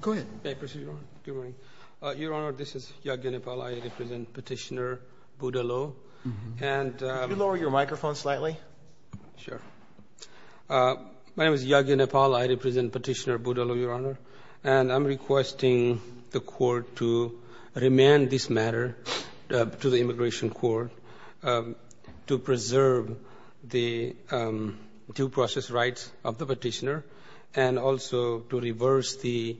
Go ahead. May I proceed, Your Honor? Good morning. Your Honor, this is Yagya Nepal. I represent Petitioner Budalo. Could you lower your microphone slightly? Sure. My name is Yagya Nepal. I represent Petitioner Budalo, Your Honor. And I'm requesting the court to remand this matter to the Immigration Court to preserve the due process rights of the petitioner, and also to reverse the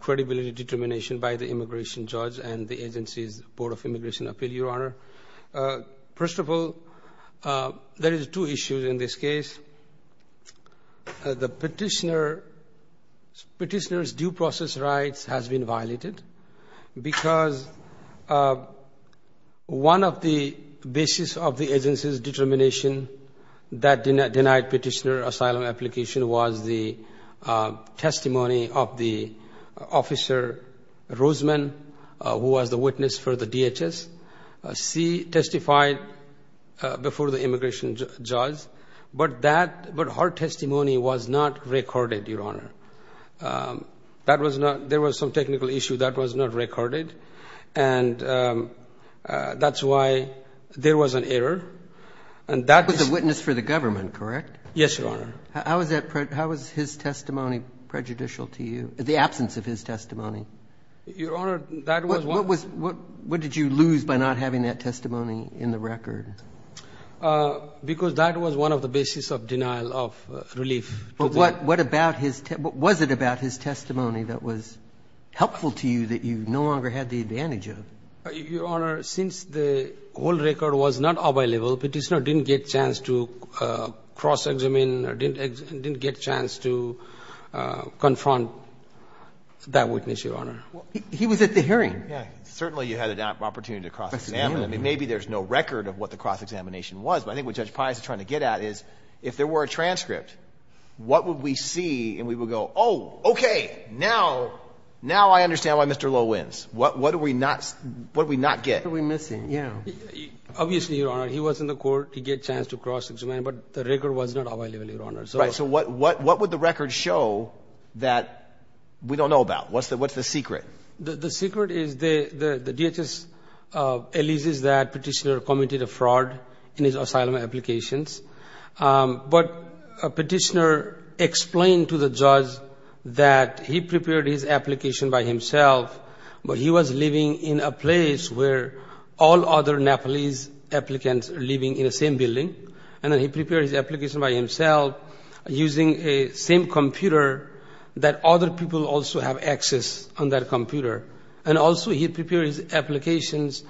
credibility determination by the immigration judge and the agency's Board of Immigration Appeal, Your Honor. First of all, there is two issues in this case. The petitioner's due process rights has been violated because one of the basis of the agency's determination that denied petitioner asylum application was the testimony of the officer, Rosemann, who was the witness for the DHS. She testified before the immigration judge. But her testimony was not recorded, Your Honor. There was some technical issue that was not recorded. And that's why there was an error. And that was a witness for the government, correct? Yes, Your Honor. How was his testimony prejudicial to you, the absence of his testimony? Your Honor, that was one of the. What did you lose by not having that testimony in the record? Because that was one of the basis of denial of relief. But what was it about his testimony that was helpful to you that you no longer had the advantage of? Your Honor, since the old record was not available, petitioner didn't get chance to cross-examine or didn't get chance to confront that witness, Your Honor. He was at the hearing. Yeah, certainly you had an opportunity to cross-examine. I mean, maybe there's no record of what the cross-examination was. But I think what Judge Pius is trying to get at is, if there were a transcript, what would we see? And we would go, oh, OK, now I understand why Mr. Lowe wins. What did we not get? What are we missing, yeah. Obviously, Your Honor, he was in the court. He get chance to cross-examine. But the record was not available, Your Honor. Right, so what would the record show that we don't know about? What's the secret? The secret is the DHS alleges that petitioner committed a fraud in his asylum applications. But a petitioner explained to the judge that he prepared his application by himself. But he was living in a place where all other Nepalese applicants are living in the same building. And then he prepared his application by himself using the same computer that other people also have access on that computer. And also, he prepared his applications.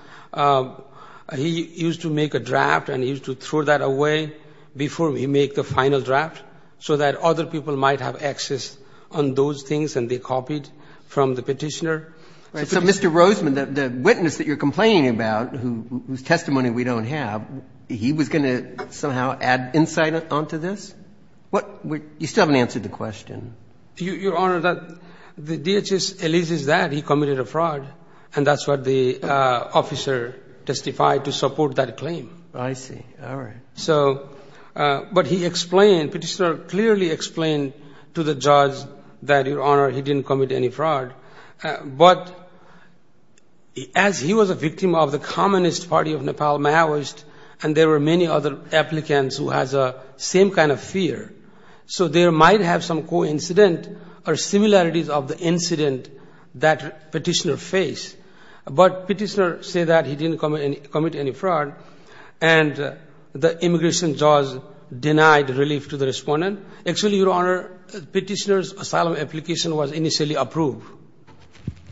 He used to make a draft. And he used to throw that away before we make the final draft so that other people might have access on those things. And they copied from the petitioner. So Mr. Roseman, the witness that you're complaining about, whose testimony we don't have, he was going to somehow add insight onto this? You still haven't answered the question. Your Honor, the DHS alleges that he committed a fraud. And that's what the officer testified to support that claim. I see, all right. But he explained, petitioner clearly explained to the judge that, Your Honor, he didn't commit any fraud. But as he was a victim of the Communist Party of Nepal Maoist, and there were many other applicants who has the same kind of fear, so there might have some coincidence or similarities of the incident that petitioner faced. But petitioner said that he didn't commit any fraud. And the immigration judge denied relief to the respondent. Actually, Your Honor, petitioner's asylum application was initially approved.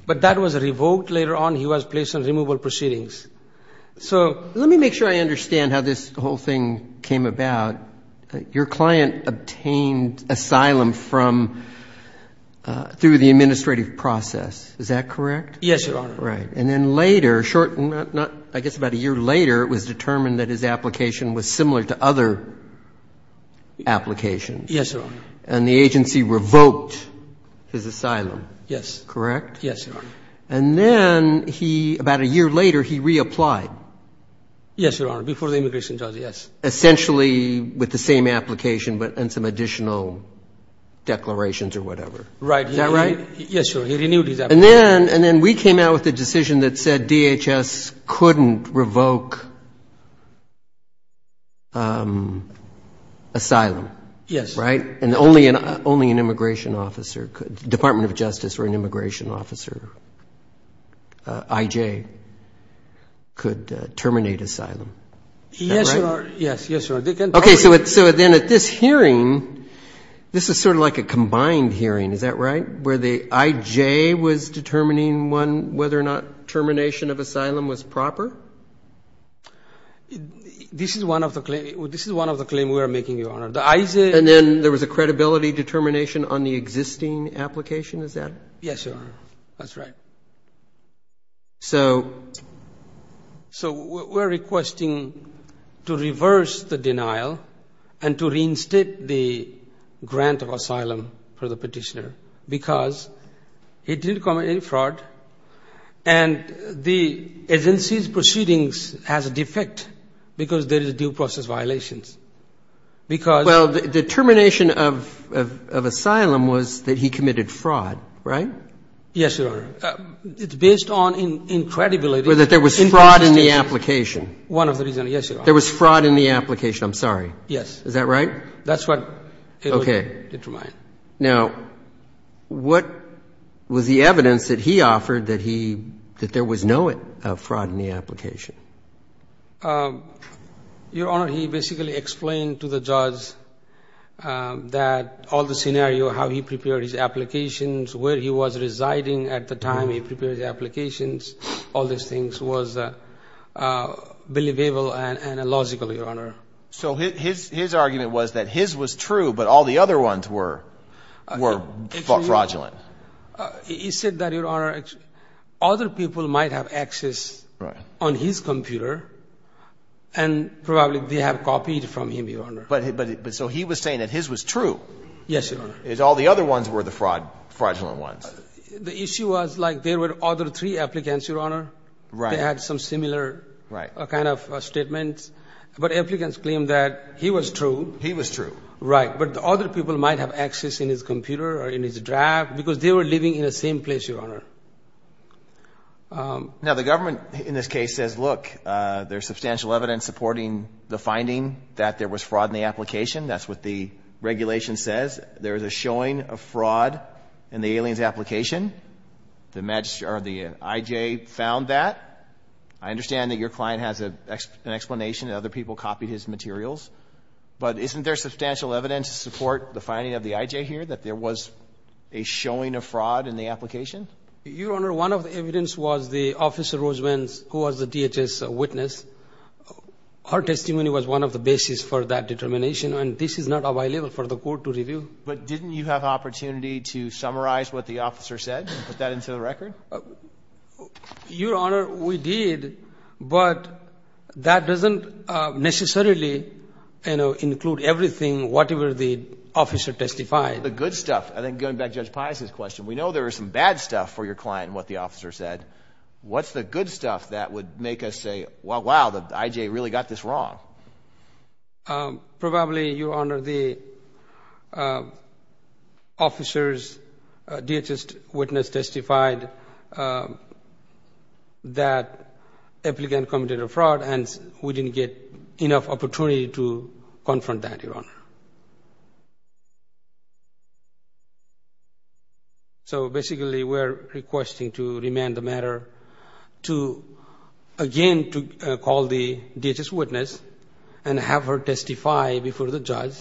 But that was revoked later on. He was placed on removal proceedings. So let me make sure I understand how this whole thing came about. Your client obtained asylum through the administrative process. Is that correct? Yes, Your Honor. Right. And then later, I guess about a year later, it was determined that his application was Yes, Your Honor. And the agency revoked his asylum, correct? Yes, Your Honor. And then, about a year later, he reapplied. Yes, Your Honor, before the immigration judge, yes. Essentially, with the same application and some additional declarations or whatever. Right. Is that right? Yes, Your Honor, he renewed his application. And then we came out with a decision that said DHS couldn't revoke asylum. Yes. Right? And only an immigration officer could, Department of Justice or an immigration officer, IJ, could terminate asylum. Yes, Your Honor. Yes, yes, Your Honor. OK, so then at this hearing, this is sort of like a combined hearing. Is that right? Where the IJ was determining whether or not termination of asylum was proper? This is one of the claims we are making, Your Honor. And then there was a credibility determination on the existing application? Is that right? Yes, Your Honor. That's right. So we're requesting to reverse the denial and to reinstate the grant of asylum for the petitioner because he didn't commit any fraud. And the agency's proceedings has a defect because there is due process violations. Because? Well, the termination of asylum was that he committed fraud, right? Yes, Your Honor. It's based on incredibility. Whether there was fraud in the application. One of the reasons, yes, Your Honor. There was fraud in the application. I'm sorry. Yes. Is that right? That's what it was determined. Now, what was the evidence that he offered that there was no fraud in the application? Your Honor, he basically explained to the judge that all the scenario, how he prepared his applications, where he was residing at the time he prepared the applications, all these things was believable and logical, Your Honor. So his argument was that his was true, but all the other ones were fraudulent. He said that, Your Honor, other people might have access on his computer, and probably they have copied from him, Your Honor. So he was saying that his was true. Yes, Your Honor. All the other ones were the fraudulent ones. The issue was like there were other three applicants, Your Honor. They had some similar kind of statements. But applicants claimed that he was true. He was true. Right. But the other people might have access in his computer or in his draft because they were living in the same place, Your Honor. Now, the government in this case says, look, there's substantial evidence supporting the finding that there was fraud in the application. That's what the regulation says. There is a showing of fraud in the alien's application. The IJ found that. I understand that your client has an explanation that other people copied his materials. But isn't there substantial evidence to support the finding of the IJ here that there was a showing of fraud in the application? Your Honor, one of the evidence was the Officer Rosemans, who was the DHS witness. Her testimony was one of the basis for that determination. And this is not available for the court to review. But didn't you have opportunity to summarize what the officer said and put that into the record? Your Honor, we did. But that doesn't necessarily include everything, whatever the officer testified. I think going back to Judge Paisa's question, we know there is some bad stuff for your client in what the officer said. What's the good stuff that would make us say, wow, the IJ really got this wrong? Probably, Your Honor, the officer's DHS witness testified that the applicant committed a fraud. And we didn't get enough opportunity to confront that, Your Honor. So basically, we're requesting to remand the matter to again to call the DHS witness and have her testify before the judge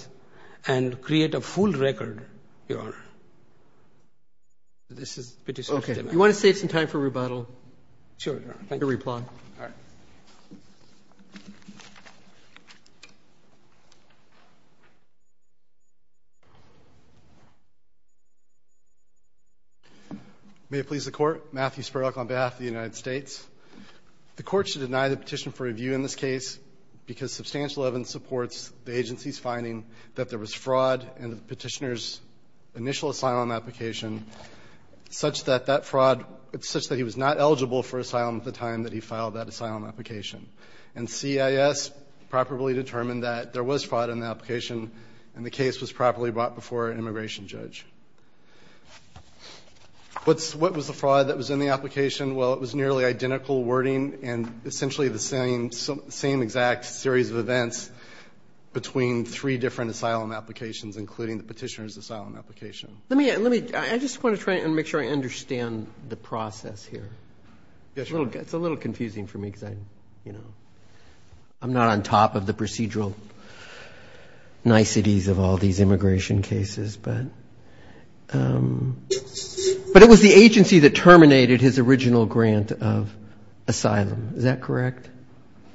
and create a full record, Your Honor. This is pretty specific. Okay. You want to save some time for rebuttal? Sure, Your Honor. Your reply. All right. May it please the Court. Matthew Spirok on behalf of the United States. The Court should deny the petition for review in this case because substantial evidence supports the agency's finding that there was fraud in the petitioner's initial asylum application, such that that fraud, such that he was not eligible for asylum at the time that he filed that asylum application. And CIS properly determined that there was fraud in the application and the case was properly brought before an immigration judge. What was the fraud that was in the application? Well, it was nearly identical wording and essentially the same exact series of events between three different asylum applications, including the petitioner's asylum application. I just want to try and make sure I understand the process here. Yes, Your Honor. It's a little confusing for me because I'm not on top of the procedural niceties of all these immigration cases, but it was the agency that terminated his original grant of asylum. Is that correct?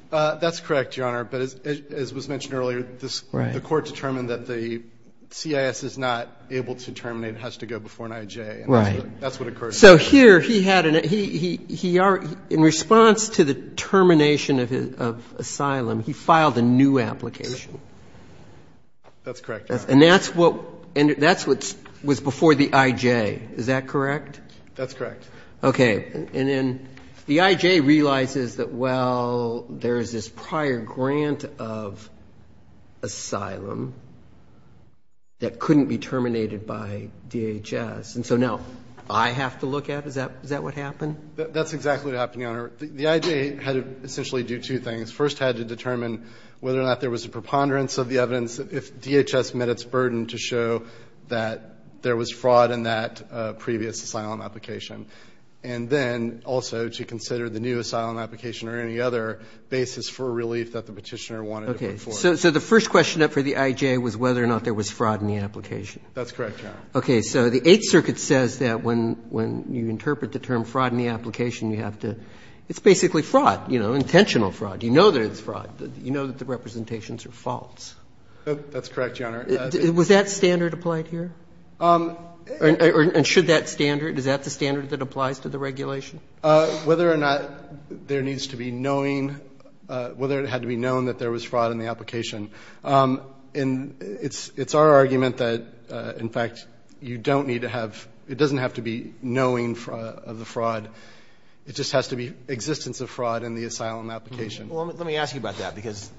That's correct, Your Honor, but as was mentioned earlier, the Court determined that the CIS is not able to terminate and has to go before an IJ. Right. That's what occurred. So here he had an ‑‑ in response to the termination of asylum, he filed a new application. That's correct, Your Honor. And that's what was before the IJ. Is that correct? That's correct. Okay. And then the IJ realizes that, well, there is this prior grant of asylum that couldn't be terminated by DHS. And so now I have to look at it? Is that what happened? That's exactly what happened, Your Honor. The IJ had to essentially do two things. First, had to determine whether or not there was a preponderance of the evidence if DHS met its burden to show that there was fraud in that previous asylum application. And then also to consider the new asylum application or any other basis for relief that the petitioner wanted to look for. Okay. So the first question up for the IJ was whether or not there was fraud in the application. That's correct, Your Honor. Okay. So the Eighth Circuit says that when you interpret the term fraud in the application, you have to ‑‑ it's basically fraud, you know, intentional fraud. You know that it's fraud. You know that the representations are false. That's correct, Your Honor. Was that standard applied here? And should that standard ‑‑ is that the standard that applies to the regulation? Whether or not there needs to be knowing ‑‑ whether it had to be known that there was fraud in the application. And it's our argument that, in fact, you don't need to have ‑‑ it doesn't have to be knowing of the fraud. It just has to be existence of fraud in the asylum application. Well, let me ask you about that because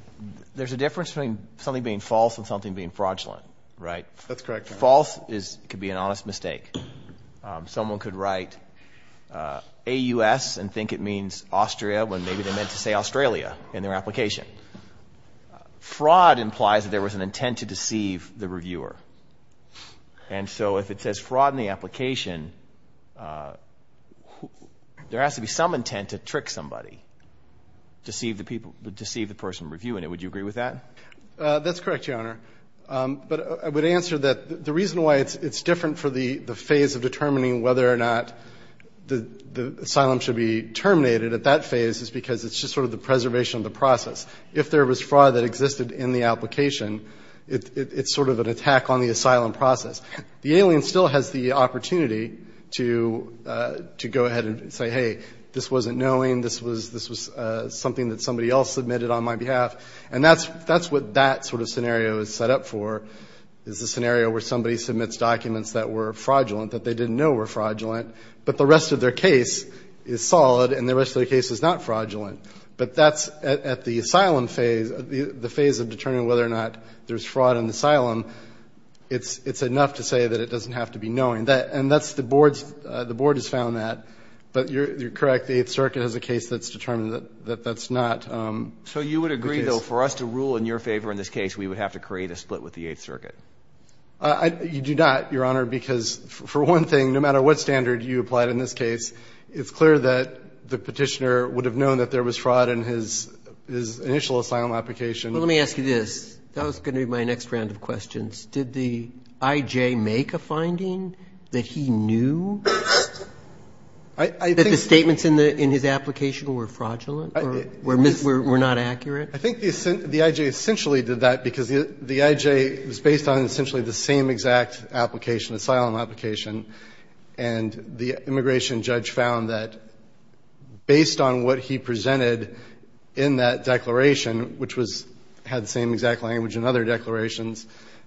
there's a difference between something being false and something being fraudulent, right? That's correct, Your Honor. False could be an honest mistake. Someone could write AUS and think it means Austria when maybe they meant to say Australia in their application. Fraud implies that there was an intent to deceive the reviewer. And so if it says fraud in the application, there has to be some intent to trick somebody, deceive the person reviewing it. Would you agree with that? That's correct, Your Honor. But I would answer that the reason why it's different for the phase of determining whether or not the asylum should be terminated at that phase is because it's just sort of the preservation of the process. If there was fraud that existed in the application, it's sort of an attack on the asylum process. The alien still has the opportunity to go ahead and say, hey, this wasn't knowing. This was something that somebody else submitted on my behalf. And that's what that sort of scenario is set up for, is the scenario where somebody submits documents that were fraudulent, that they didn't know were fraudulent, but the rest of their case is solid and the rest of their case is not fraudulent. But that's at the asylum phase, the phase of determining whether or not there's fraud in the asylum, it's enough to say that it doesn't have to be knowing. And that's the board's – the board has found that. But you're correct. The Eighth Circuit has a case that's determined that that's not. So you would agree, though, for us to rule in your favor in this case, we would have to create a split with the Eighth Circuit? You do not, Your Honor, because for one thing, no matter what standard you applied in this case, it's clear that the Petitioner would have known that there was fraud in his initial asylum application. Well, let me ask you this. That was going to be my next round of questions. Did the I.J. make a finding that he knew that the statements in his application were fraudulent or were not accurate? I think the I.J. essentially did that because the I.J. was based on essentially the same exact application, asylum application, and the immigration judge found that based on what he presented in that declaration, which had the same exact language in other declarations,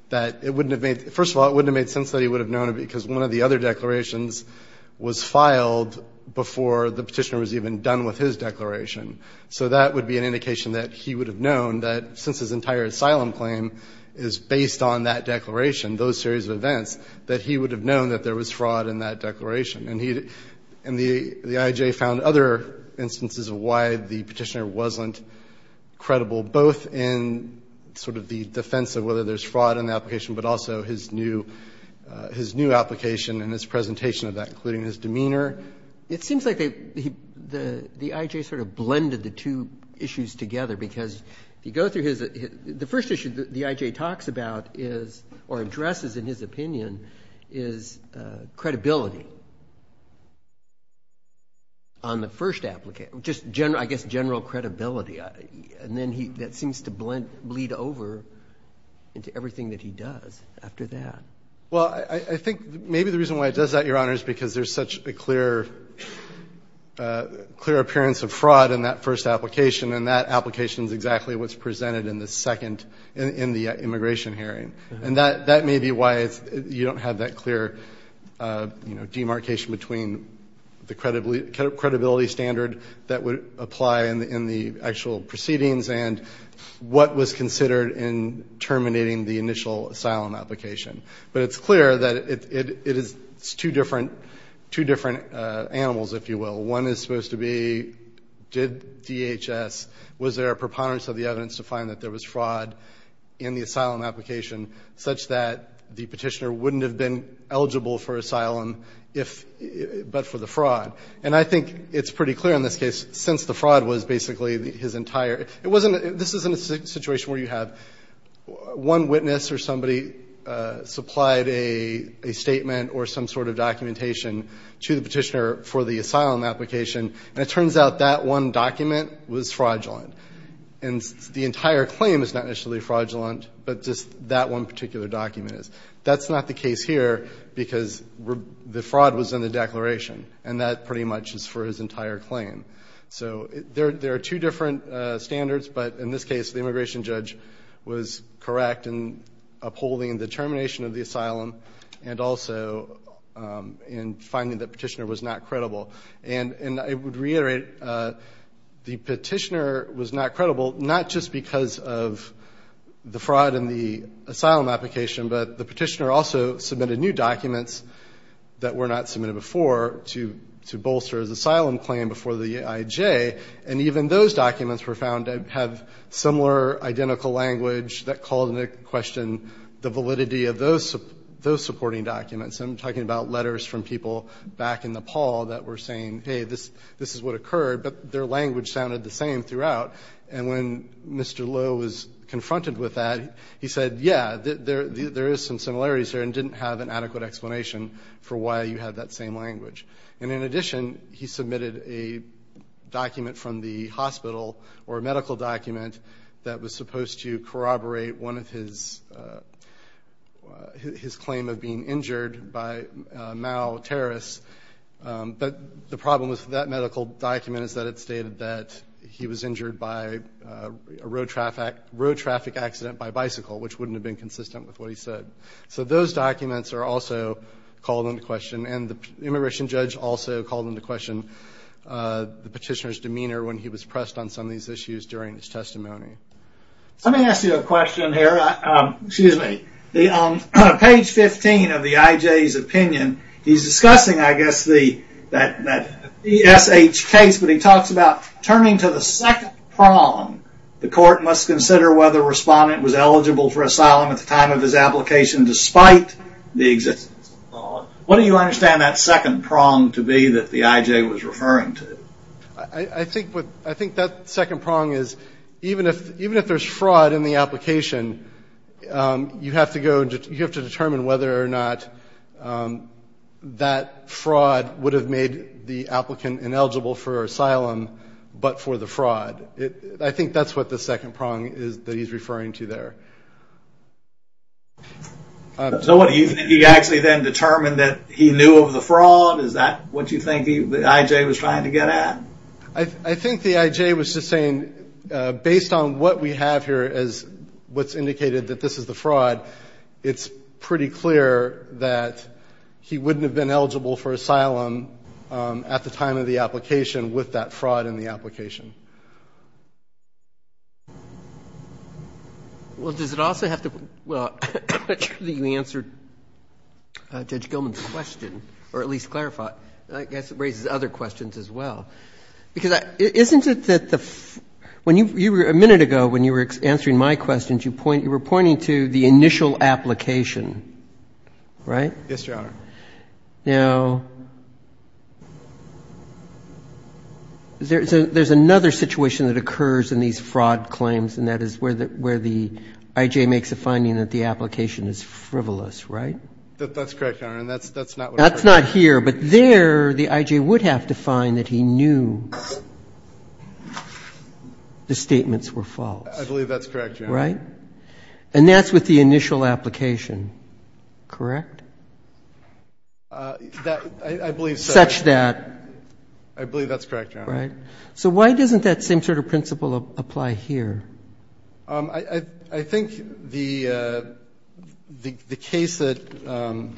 that it wouldn't have made – first of all, it wouldn't have made sense that he would have known because one of the other declarations was filed before the Petitioner was even done with his declaration. So that would be an indication that he would have known that since his entire asylum claim is based on that declaration, those series of events, that he would have known that there was fraud in that declaration. And the I.J. found other instances of why the Petitioner wasn't credible, both in sort of the defense of whether there's fraud in the application, but also his new application and his presentation of that, including his demeanor. It seems like the I.J. sort of blended the two issues together because if you go through his – the first issue the I.J. talks about is, or addresses in his opinion, is credibility on the first – I guess general credibility. And then that seems to bleed over into everything that he does after that. Well, I think maybe the reason why it does that, Your Honor, is because there's such a clear appearance of fraud in that first application, and that application is exactly what's presented in the second – in the immigration hearing. And that may be why you don't have that clear demarcation between the credibility standard that would apply in the actual proceedings and what was considered in terminating the initial asylum application. But it's clear that it is two different animals, if you will. One is supposed to be, did DHS – was there a preponderance of the evidence to suggest that there was fraud in the asylum application such that the petitioner wouldn't have been eligible for asylum but for the fraud? And I think it's pretty clear in this case, since the fraud was basically his entire – it wasn't – this isn't a situation where you have one witness or somebody supplied a statement or some sort of documentation to the petitioner for the asylum application, and it turns out that one document was fraudulent. And the entire claim is not necessarily fraudulent, but just that one particular document is. That's not the case here because the fraud was in the declaration, and that pretty much is for his entire claim. So there are two different standards, but in this case, the immigration judge was correct in upholding the termination of the asylum and also in finding that the petitioner was not credible. And I would reiterate, the petitioner was not credible not just because of the fraud in the asylum application, but the petitioner also submitted new documents that were not submitted before to bolster his asylum claim before the IJ. And even those documents were found to have similar identical language that called into question the validity of those supporting documents. I'm talking about letters from people back in Nepal that were saying, hey, this is what occurred, but their language sounded the same throughout. And when Mr. Loh was confronted with that, he said, yeah, there is some similarities there and didn't have an adequate explanation for why you had that same language. And in addition, he submitted a document from the hospital or a medical document that was supposed to corroborate one of his claims of being injured by Mao terrorists. But the problem with that medical document is that it stated that he was injured by a road traffic accident by bicycle, which wouldn't have been consistent with what he said. So those documents are also called into question. And the immigration judge also called into question the petitioner's demeanor when he was pressed on some of these issues during his testimony. Let me ask you a question here. Excuse me. On page 15 of the IJ's opinion, he's discussing, I guess, that BSH case, but he talks about turning to the second prong. The court must consider whether a respondent was eligible for asylum at the time of his application despite the existence of the law. What do you understand that second prong to be that the IJ was referring to? I think that second prong is even if there's fraud in the application, you have to determine whether or not that fraud would have made the applicant ineligible for asylum, but for the fraud. I think that's what the second prong is that he's referring to there. So what, he actually then determined that he knew of the fraud? Is that what you think the IJ was trying to get at? I think the IJ was just saying based on what we have here as what's indicated that this is the fraud, it's pretty clear that he wouldn't have been eligible for asylum at the time of the application with that fraud in the application. Well, does it also have to, well, I'm not sure that you answered Judge Gilman's question, or at least clarified. I guess it raises other questions as well. Because isn't it that the, when you, a minute ago when you were answering my questions, you were pointing to the initial application, right? Yes, Your Honor. Now, there's another situation that occurs in these fraud claims, and that is where the IJ makes a finding that the application is frivolous, right? That's correct, Your Honor, and that's not what I'm talking about. That's not here, but there the IJ would have to find that he knew the statements were false. I believe that's correct, Your Honor. Right? And that's with the initial application, correct? I believe so. Such that. I believe that's correct, Your Honor. Right. So why doesn't that same sort of principle apply here? I think the case that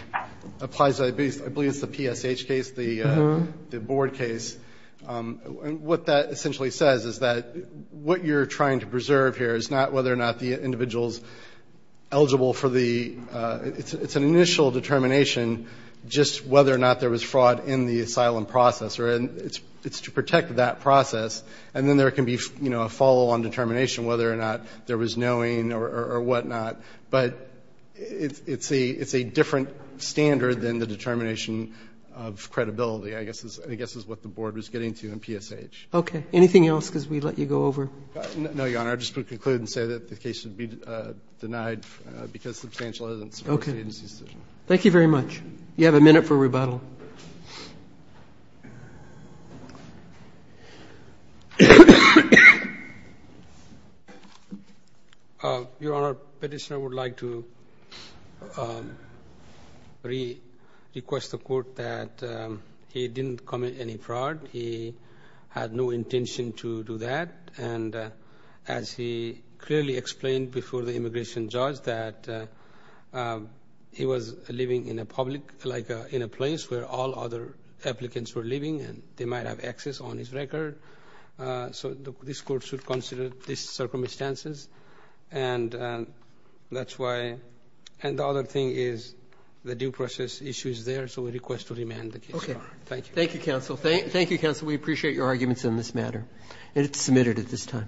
applies, I believe it's the PSH case, the board case, what that essentially says is that what you're trying to preserve here is not whether or not the individual's eligible for the, it's an initial determination just whether or not there was fraud in the asylum process. It's to protect that process, and then there can be, you know, a follow-on determination whether or not there was knowing or whatnot. But it's a different standard than the determination of credibility, I guess, is what the board was getting to in PSH. Okay. Anything else because we let you go over? No, Your Honor. I just would conclude and say that the case should be denied because substantial evidence supports the agency's decision. Okay. Thank you very much. You have a minute for rebuttal. Your Honor, petitioner would like to request the court that he didn't commit any fraud. He had no intention to do that. And as he clearly explained before the immigration judge that he was living in a public, like in a place where all other applicants were living, and they might have access on his record. So this court should consider these circumstances, and that's why. And the other thing is the due process issue is there, so we request to remand the case. Okay. Thank you. Thank you, counsel. Thank you, counsel. We appreciate your arguments in this matter. And it's submitted at this time.